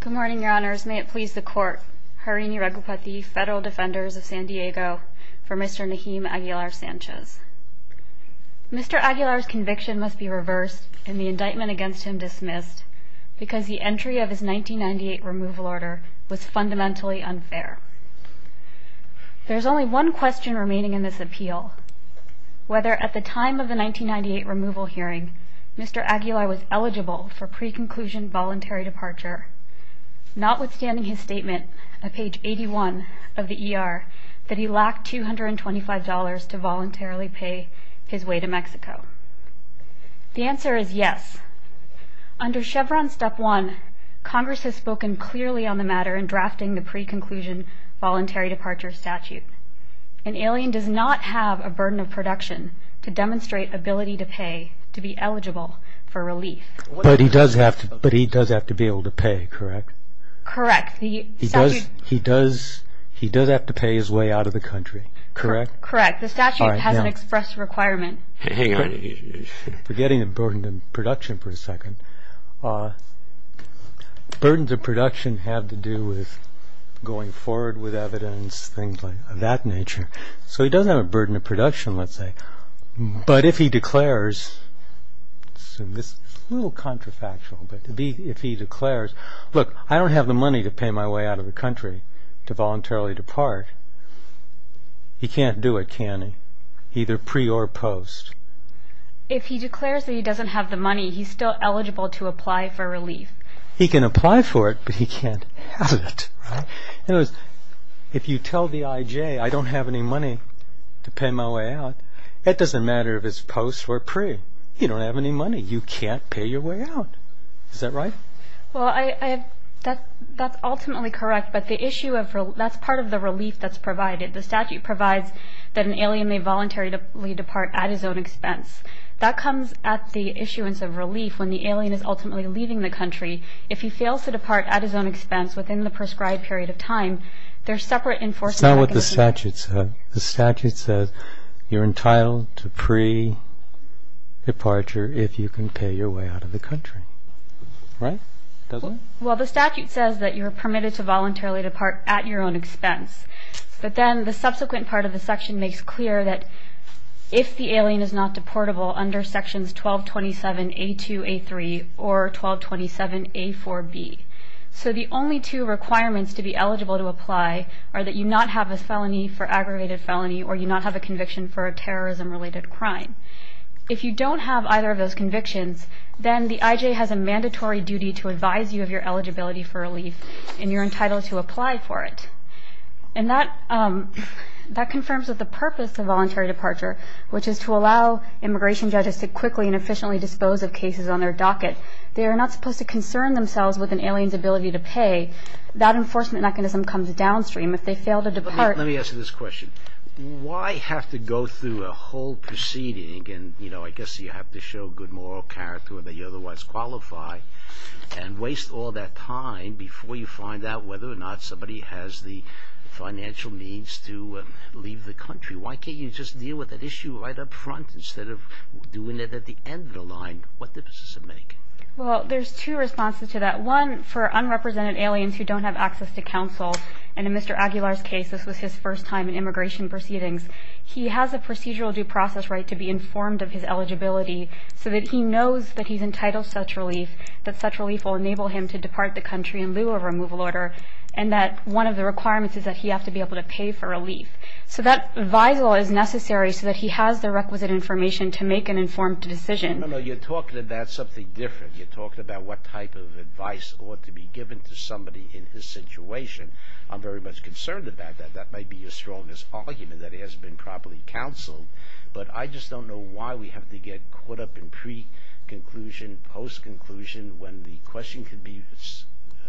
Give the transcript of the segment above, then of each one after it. Good morning, Your Honors. May it please the Court, Harini Raghupati, Federal Defenders of San Diego, for Mr. Nahim Aguilar-Sanchez. Mr. Aguilar's conviction must be reversed and the indictment against him dismissed because the entry of his 1998 removal order was fundamentally unfair. There is only one question remaining in this appeal, whether at the time of the 1998 removal hearing Mr. Aguilar was eligible for pre-conclusion voluntary departure, notwithstanding his statement at page 81 of the ER that he lacked $225 to voluntarily pay his way to Mexico. The answer is yes. Under Chevron Step 1, Congress has spoken clearly on the matter in drafting the pre-conclusion voluntary departure statute. An alien does not have a burden of production to demonstrate ability to pay to be eligible for relief. But he does have to be able to pay, correct? Correct. He does have to pay his way out of the country, correct? Correct. The statute has an express requirement. Hang on. Forgetting the burden of production for a second. Burden of production had to do with going forward with evidence, things of that nature. So he does have a burden of production, let's say. But if he declares, this is a little counterfactual, but if he declares, look, I don't have the money to pay my way out of the country to voluntarily depart, he can't do it, can he? Either pre or post. If he declares that he doesn't have the money, he's still eligible to apply for relief. He can apply for it, but he can't have it. In other words, if you tell the IJ I don't have any money to pay my way out, it doesn't matter if it's post or pre. You don't have any money. You can't pay your way out. Is that right? Well, that's ultimately correct, but that's part of the relief that's provided. The statute provides that an alien may voluntarily depart at his own expense. That comes at the issuance of relief when the alien is ultimately leaving the country. If he fails to depart at his own expense within the prescribed period of time, there's separate enforcement. That's not what the statute says. The statute says you're entitled to pre-departure if you can pay your way out of the country. Right? Doesn't it? Well, the statute says that you're permitted to voluntarily depart at your own expense, but then the subsequent part of the section makes clear that if the alien is not deportable under sections 1227A2A3 or 1227A4B, so the only two requirements to be eligible to apply are that you not have a felony for aggravated felony or you not have a conviction for a terrorism-related crime. If you don't have either of those convictions, then the IJ has a mandatory duty to advise you of your eligibility for relief, and you're entitled to apply for it. And that confirms that the purpose of voluntary departure, which is to allow immigration judges to quickly and efficiently dispose of cases on their docket, they are not supposed to concern themselves with an alien's ability to pay. That enforcement mechanism comes downstream. If they fail to depart... Let me ask you this question. Why have to go through a whole proceeding and, you know, I guess you have to show good moral character that you otherwise qualify and waste all that time before you find out whether or not somebody has the financial means to leave the country? Why can't you just deal with that issue right up front instead of doing it at the end of the line? What difference does it make? Well, there's two responses to that. One, for unrepresented aliens who don't have access to counsel, and in Mr. Aguilar's case, this was his first time in immigration proceedings, he has a procedural due process right to be informed of his eligibility so that he knows that he's entitled to such relief, that such relief will enable him to depart the country in lieu of a removal order, and that one of the requirements is that he has to be able to pay for relief. So that visal is necessary so that he has the requisite information to make an informed decision. No, no, no. You're talking about something different. You're talking about what type of advice ought to be given to somebody in his situation. I'm very much concerned about that. That might be your strongest argument, that he hasn't been properly counseled, but I just don't know why we have to get caught up in pre-conclusion, post-conclusion, when the question can be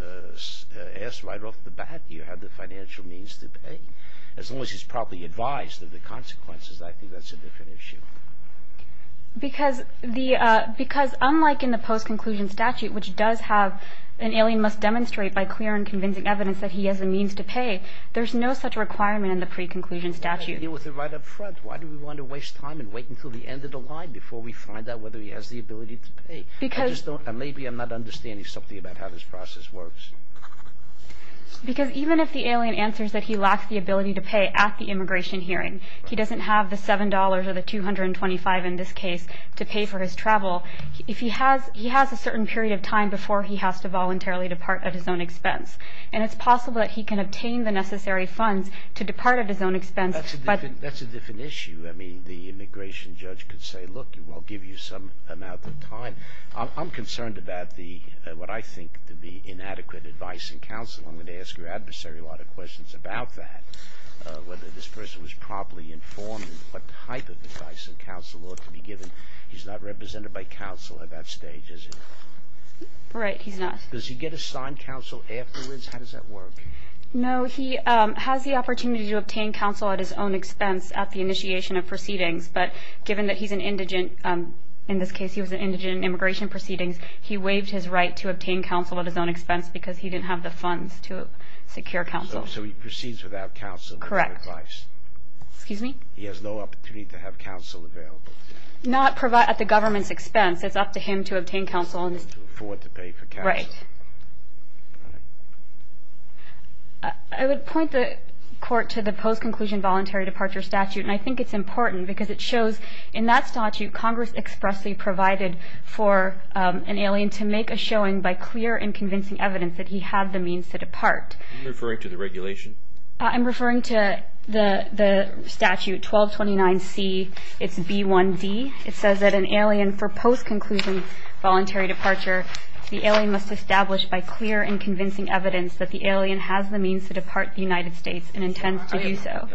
asked right off the bat. Do you have the financial means to pay? As long as he's properly advised of the consequences, I think that's a different issue. Because unlike in the post-conclusion statute, which does have an alien must demonstrate by clear and convincing evidence that he has the means to pay, there's no such requirement in the pre-conclusion statute. You're right up front. Why do we want to waste time and wait until the end of the line before we find out whether he has the ability to pay? Maybe I'm not understanding something about how this process works. Because even if the alien answers that he lacks the ability to pay at the immigration hearing, he doesn't have the $7 or the $225 in this case to pay for his travel, he has a certain period of time before he has to voluntarily depart at his own expense. And it's possible that he can obtain the necessary funds to depart at his own expense. That's a different issue. I mean, the immigration judge could say, look, I'll give you some amount of time. I'm concerned about what I think to be inadequate advice and counsel. I'm going to ask your adversary a lot of questions about that, whether this person was properly informed in what type of advice and counsel ought to be given. He's not represented by counsel at that stage, is he? Right, he's not. Does he get assigned counsel afterwards? How does that work? No, he has the opportunity to obtain counsel at his own expense at the initiation of proceedings. But given that he's an indigent, in this case he was an indigent in immigration proceedings, he waived his right to obtain counsel at his own expense because he didn't have the funds to secure counsel. So he proceeds without counsel? Correct. He has no opportunity to have counsel available? Not at the government's expense. It's up to him to obtain counsel. To afford to pay for counsel. Right. I would point the court to the post-conclusion voluntary departure statute. And I think it's important because it shows in that statute Congress expressly provided for an alien to make a showing by clear and convincing evidence that he had the means to depart. Are you referring to the regulation? I'm referring to the statute 1229C, it's B1D. It says that an alien for post-conclusion voluntary departure, the alien must establish by clear and convincing evidence that the alien has the means to depart the United States and intends to do so.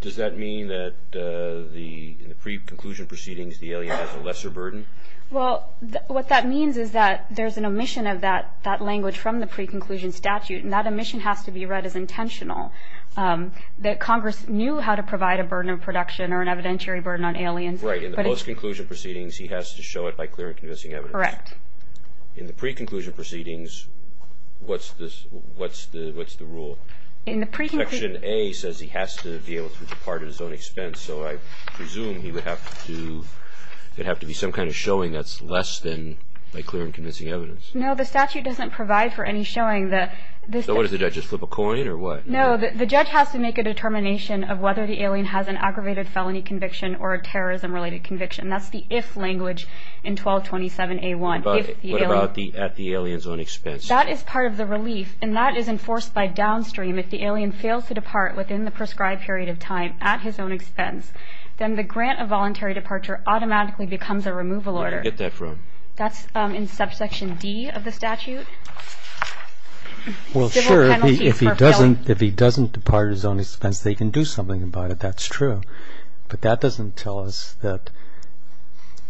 Does that mean that in the pre-conclusion proceedings the alien has a lesser burden? Well, what that means is that there's an omission of that language from the pre-conclusion statute and that omission has to be read as intentional. That Congress knew how to provide a burden of production or an evidentiary burden on aliens. Right. In the post-conclusion proceedings he has to show it by clear and convincing evidence. Correct. In the pre-conclusion proceedings, what's the rule? In the pre-conclusion... Section A says he has to be able to depart at his own expense, so I presume there would have to be some kind of showing that's less than by clear and convincing evidence. No, the statute doesn't provide for any showing. So what does the judge, just flip a coin or what? No, the judge has to make a determination of whether the alien has an aggravated felony conviction or a terrorism-related conviction. That's the if language in 1227A1. What about at the alien's own expense? That is part of the relief and that is enforced by downstream. If the alien fails to depart within the prescribed period of time at his own expense, then the grant of voluntary departure automatically becomes a removal order. Where do you get that from? That's in subsection D of the statute. Well, sure, if he doesn't depart at his own expense, they can do something about it. That's true. But that doesn't tell us that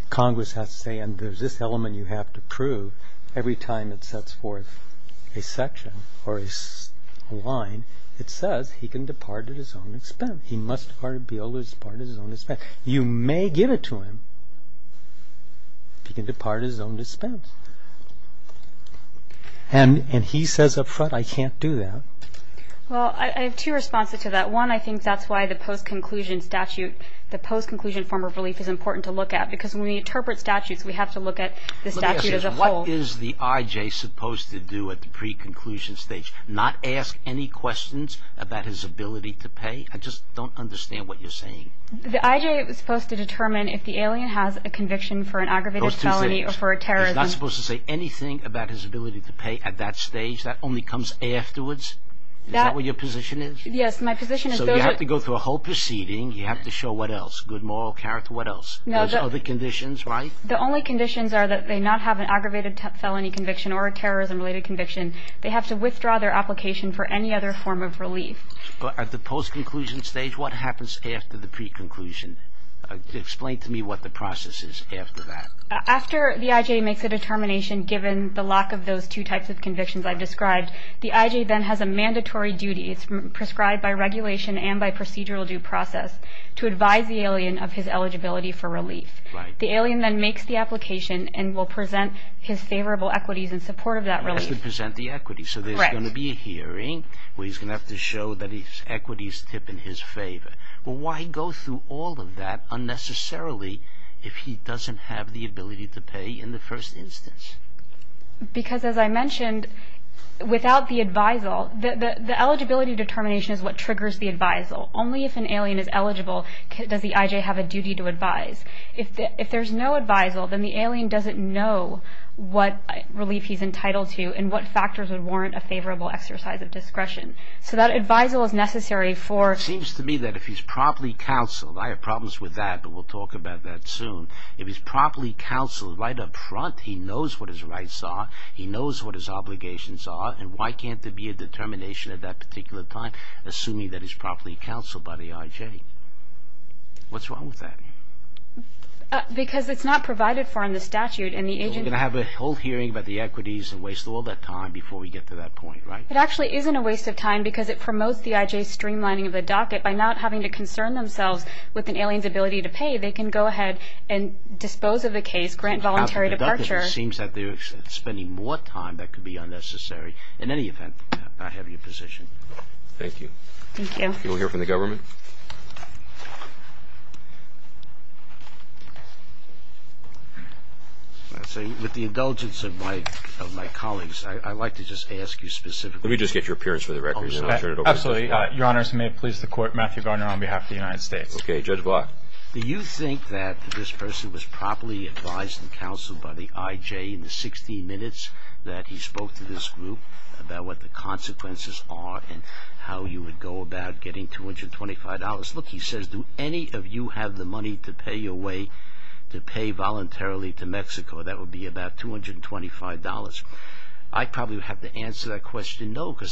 Congress has to say, and there's this element you have to prove every time it sets forth a section or a line, it says he can depart at his own expense. He must depart at his own expense. You may give it to him. He can depart at his own expense. And he says up front, I can't do that. Well, I have two responses to that. One, I think that's why the post-conclusion statute, the post-conclusion form of relief is important to look at because when we interpret statutes, we have to look at the statute as a whole. Let me ask you this. What is the I.J. supposed to do at the pre-conclusion stage? Not ask any questions about his ability to pay? I just don't understand what you're saying. The I.J. is supposed to determine if the alien has a conviction for an aggravated felony or for a terrorism. He's not supposed to say anything about his ability to pay at that stage? That only comes afterwards? Is that what your position is? Yes, my position is those are... So you have to go through a whole proceeding. You have to show what else? Good moral character, what else? Those other conditions, right? The only conditions are that they not have an aggravated felony conviction or a terrorism-related conviction. They have to withdraw their application for any other form of relief. But at the post-conclusion stage, what happens after the pre-conclusion? Explain to me what the process is after that. After the I.J. makes a determination, given the lack of those two types of convictions I've described, the I.J. then has a mandatory duty. It's prescribed by regulation and by procedural due process to advise the alien of his eligibility for relief. The alien then makes the application and will present his favorable equities in support of that relief. He has to present the equities. Correct. So there's going to be a hearing where he's going to have to show that his equities tip in his favor. Well, why go through all of that unnecessarily if he doesn't have the ability to pay in the first instance? Because, as I mentioned, without the advisal, the eligibility determination is what triggers the advisal. Only if an alien is eligible does the I.J. have a duty to advise. If there's no advisal, then the alien doesn't know what relief he's entitled to and what factors would warrant a favorable exercise of discretion. So that advisal is necessary for... It seems to me that if he's properly counseled. I have problems with that, but we'll talk about that soon. If he's properly counseled right up front, he knows what his rights are, he knows what his obligations are, and why can't there be a determination at that particular time, assuming that he's properly counseled by the I.J.? What's wrong with that? Because it's not provided for in the statute and the agent... So we're going to have a whole hearing about the equities and waste all that time before we get to that point, right? It actually isn't a waste of time because it promotes the I.J.'s streamlining of the docket by not having to concern themselves with an alien's ability to pay. They can go ahead and dispose of the case, grant voluntary departure. It seems that they're spending more time that could be unnecessary. In any event, I have your position. Thank you. Thank you. Can we hear from the government? With the indulgence of my colleagues, I'd like to just ask you specifically... Let me just get your appearance for the record. Absolutely. Your Honors, may it please the Court. Matthew Gardner on behalf of the United States. Okay. Judge Block. Do you think that this person was properly advised and counseled by the I.J. in the 16 minutes that he spoke to this group about what the consequences are and how you would go about getting $225? Look, he says, do any of you have the money to pay your way to pay voluntarily to Mexico? That would be about $225. I probably would have to answer that question, no, He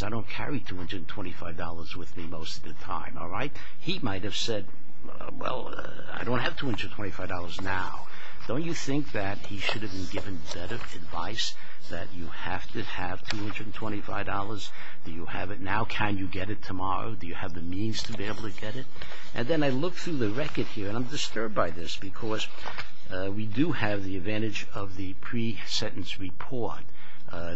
might have said, well, I don't have $225 now. Don't you think that he should have been given better advice that you have to have $225? Do you have it now? Can you get it tomorrow? Do you have the means to be able to get it? And then I look through the record here, and I'm disturbed by this because we do have the advantage of the pre-sentence report.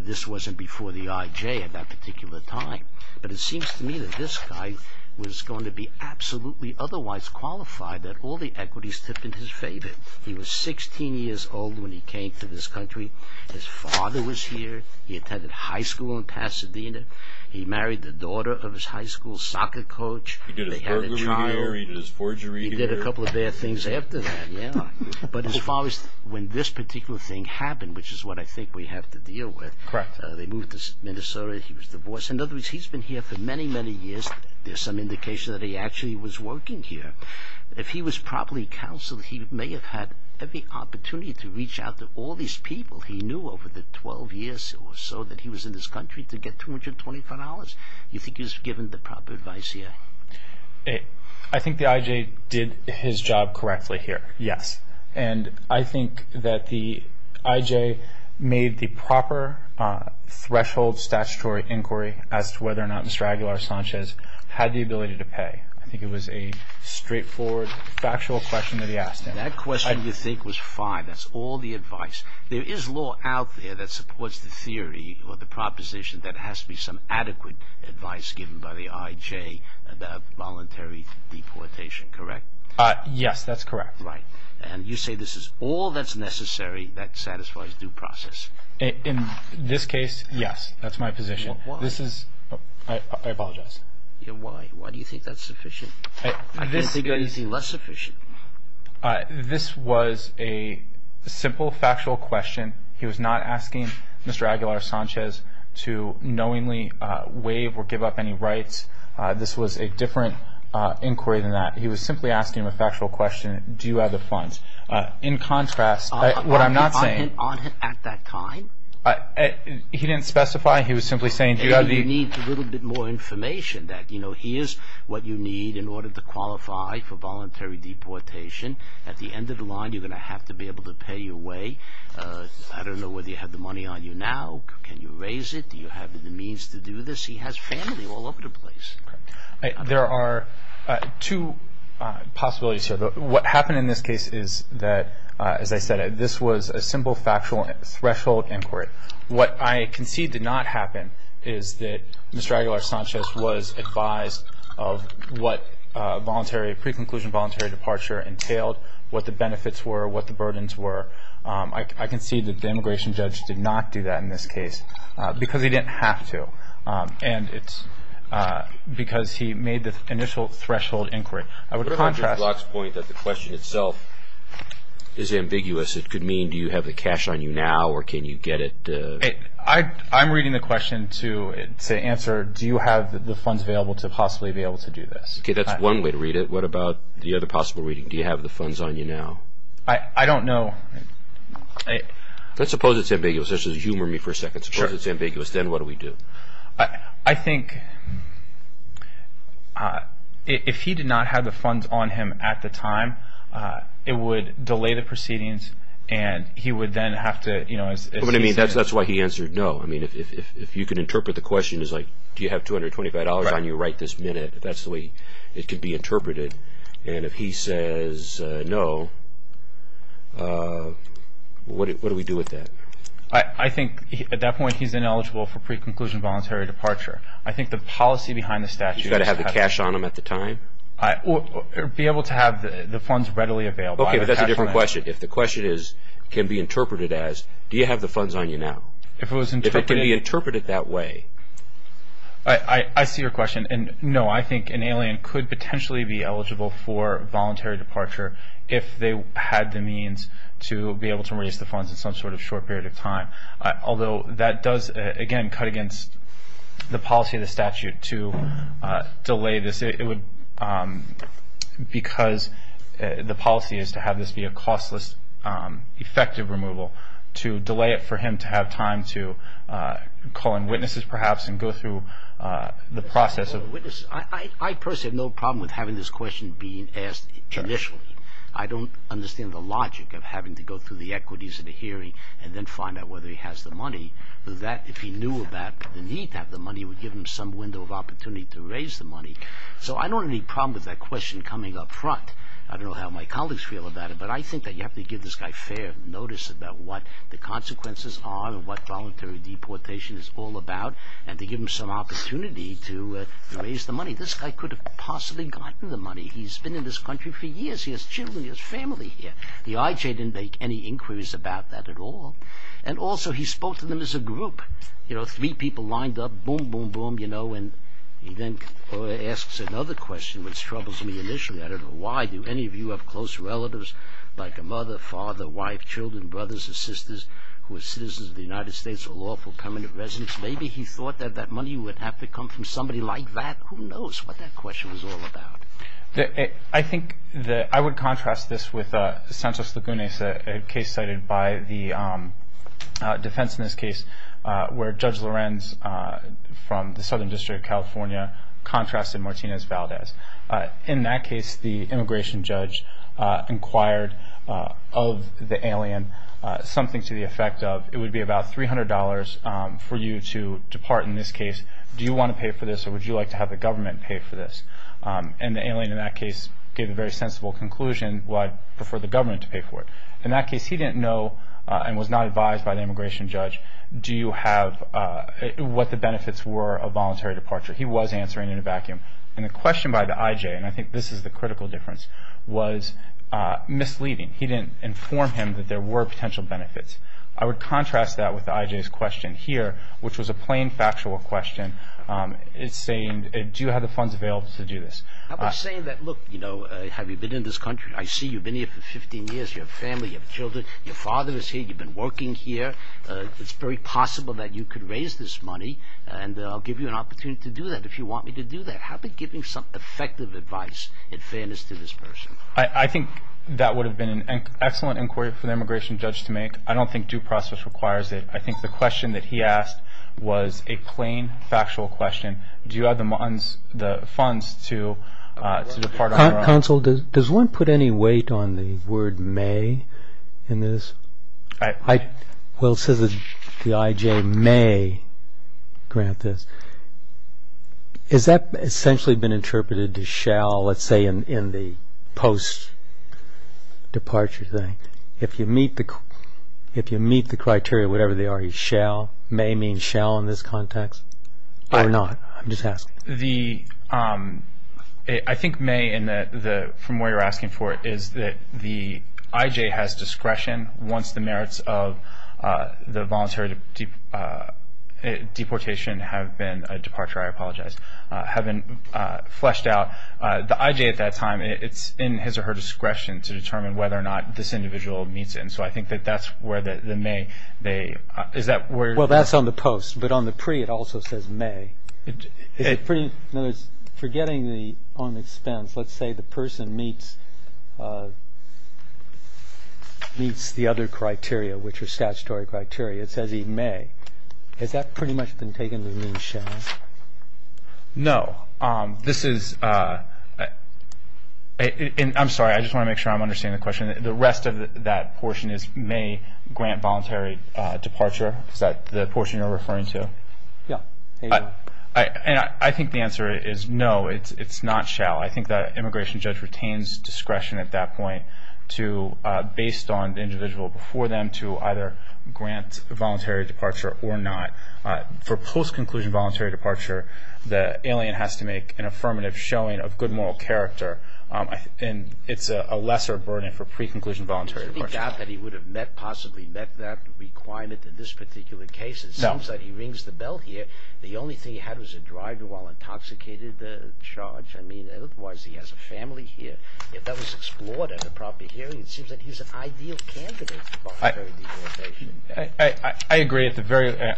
This wasn't before the I.J. at that particular time. But it seems to me that this guy was going to be absolutely otherwise qualified that all the equities tip in his favor. He was 16 years old when he came to this country. His father was here. He attended high school in Pasadena. He married the daughter of his high school soccer coach. He did his burglary here. They had a child. He did his forgery here. He did a couple of bad things after that, yeah. But as far as when this particular thing happened, which is what I think we have to deal with. Correct. They moved to Minnesota. He was divorced. In other words, he's been here for many, many years. There's some indication that he actually was working here. If he was properly counseled, he may have had every opportunity to reach out to all these people he knew over the 12 years or so that he was in this country to get $224. Do you think he was given the proper advice here? I think the I.J. did his job correctly here, yes. And I think that the I.J. made the proper threshold statutory inquiry as to whether or not Mr. Aguilar Sanchez had the ability to pay. I think it was a straightforward, factual question that he asked him. That question, you think, was fine. That's all the advice. There is law out there that supports the theory or the proposition that has to be some adequate advice given by the I.J. about voluntary deportation, correct? Yes, that's correct. Right. And you say this is all that's necessary that satisfies due process. In this case, yes. That's my position. Why? I apologize. Why? Why do you think that's sufficient? I can't think of anything less sufficient. This was a simple, factual question. He was not asking Mr. Aguilar Sanchez to knowingly waive or give up any rights. This was a different inquiry than that. He was simply asking him a factual question. Do you have the funds? In contrast, what I'm not saying- On him at that time? He didn't specify. He was simply saying- You need a little bit more information that, you know, here's what you need in order to qualify for voluntary deportation. At the end of the line, you're going to have to be able to pay your way. I don't know whether you have the money on you now. Can you raise it? Do you have the means to do this? He has family all over the place. There are two possibilities here. What happened in this case is that, as I said, this was a simple, factual threshold inquiry. What I concede did not happen is that Mr. Aguilar Sanchez was advised of what voluntary-preconclusion voluntary departure entailed, what the benefits were, what the burdens were. I concede that the immigration judge did not do that in this case because he didn't have to. And it's because he made the initial threshold inquiry. I would contrast- The question itself is ambiguous. It could mean do you have the cash on you now or can you get it- I'm reading the question to answer do you have the funds available to possibly be able to do this. Okay, that's one way to read it. What about the other possible reading? Do you have the funds on you now? I don't know. Let's suppose it's ambiguous. Just humor me for a second. Let's suppose it's ambiguous. Then what do we do? I think if he did not have the funds on him at the time, it would delay the proceedings and he would then have to- That's why he answered no. If you could interpret the question as do you have $225 on you right this minute, that's the way it could be interpreted. And if he says no, what do we do with that? I think at that point he's ineligible for pre-conclusion voluntary departure. I think the policy behind the statute- You've got to have the cash on him at the time? Be able to have the funds readily available. Okay, but that's a different question. If the question can be interpreted as do you have the funds on you now? If it can be interpreted that way- I see your question. No, I think an alien could potentially be eligible for voluntary departure if they had the means to be able to raise the funds in some sort of short period of time. Although that does, again, cut against the policy of the statute to delay this. Because the policy is to have this be a costless, effective removal, to delay it for him to have time to call in witnesses perhaps and go through the process of- I personally have no problem with having this question being asked initially. I don't understand the logic of having to go through the equities of the hearing and then find out whether he has the money. If he knew about the need to have the money, it would give him some window of opportunity to raise the money. So I don't have any problem with that question coming up front. I don't know how my colleagues feel about it, but I think you have to give this guy fair notice about what the consequences are and what voluntary deportation is all about and to give him some opportunity to raise the money. This guy could have possibly gotten the money. He's been in this country for years. He has children. He has family here. The IJ didn't make any inquiries about that at all. And also he spoke to them as a group. You know, three people lined up, boom, boom, boom, you know, and he then asks another question which troubles me initially. I don't know why. Do any of you have close relatives like a mother, father, wife, children, brothers or sisters who are citizens of the United States or lawful permanent residents? Maybe he thought that that money would have to come from somebody like that. Who knows what that question was all about. I think that I would contrast this with Santos Lagunes, a case cited by the defense in this case where Judge Lorenz from the Southern District of California contrasted Martinez Valdez. In that case, the immigration judge inquired of the alien something to the effect of it would be about $300 for you to depart in this case. Do you want to pay for this or would you like to have the government pay for this? And the alien in that case gave a very sensible conclusion, well, I'd prefer the government to pay for it. In that case, he didn't know and was not advised by the immigration judge, do you have what the benefits were of voluntary departure. He was answering in a vacuum. And the question by the IJ, and I think this is the critical difference, was misleading. He didn't inform him that there were potential benefits. I would contrast that with the IJ's question here, which was a plain factual question. It's saying, do you have the funds available to do this? I was saying that, look, you know, have you been in this country? I see you've been here for 15 years, you have family, you have children, your father is here, you've been working here, it's very possible that you could raise this money and I'll give you an opportunity to do that if you want me to do that. How about giving some effective advice and fairness to this person? I think that would have been an excellent inquiry for the immigration judge to make. I don't think due process requires it. I think the question that he asked was a plain factual question. Do you have the funds to depart on your own? Counsel, does one put any weight on the word may in this? Well, it says that the IJ may grant this. Has that essentially been interpreted to shall, let's say, in the post-departure thing? If you meet the criteria, whatever they are, you shall, may mean shall in this context or not? I'm just asking. I think may from where you're asking for it is that the IJ has discretion once the merits of the voluntary deportation have been a departure, I apologize, have been fleshed out. The IJ at that time, it's in his or her discretion to determine whether or not this individual meets it. So I think that that's where the may, they, is that where? Well, that's on the post, but on the pre it also says may. Forgetting the on expense, let's say the person meets the other criteria, which are statutory criteria. It says he may. Has that pretty much been taken to mean shall? No. This is, I'm sorry, I just want to make sure I'm understanding the question. The rest of that portion is may grant voluntary departure. Is that the portion you're referring to? Yeah. And I think the answer is no, it's not shall. I think that immigration judge retains discretion at that point to, based on the individual before them, to either grant voluntary departure or not. For post-conclusion voluntary departure, the alien has to make an affirmative showing of good moral character. And it's a lesser burden for pre-conclusion voluntary departure. Do you think that he would have met, possibly met that requirement in this particular case? No. It seems like he rings the bell here. The only thing he had was a driver while intoxicated charge. I mean, otherwise he has a family here. If that was explored at a proper hearing, it seems like he's an ideal candidate for voluntary deportation. I agree.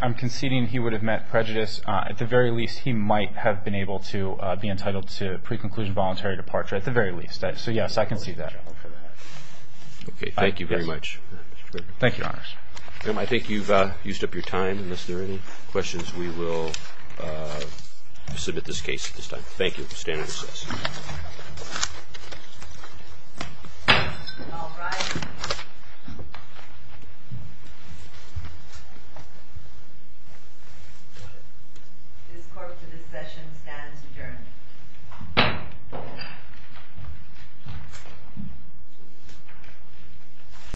I'm conceding he would have met prejudice. At the very least, he might have been able to be entitled to pre-conclusion voluntary departure. At the very least. So, yes, I can see that. Okay. Thank you very much. Thank you, Your Honors. I think you've used up your time. Unless there are any questions, we will submit this case at this time. Thank you. Stand by for the session. All rise. This court, to the session, stands adjourned.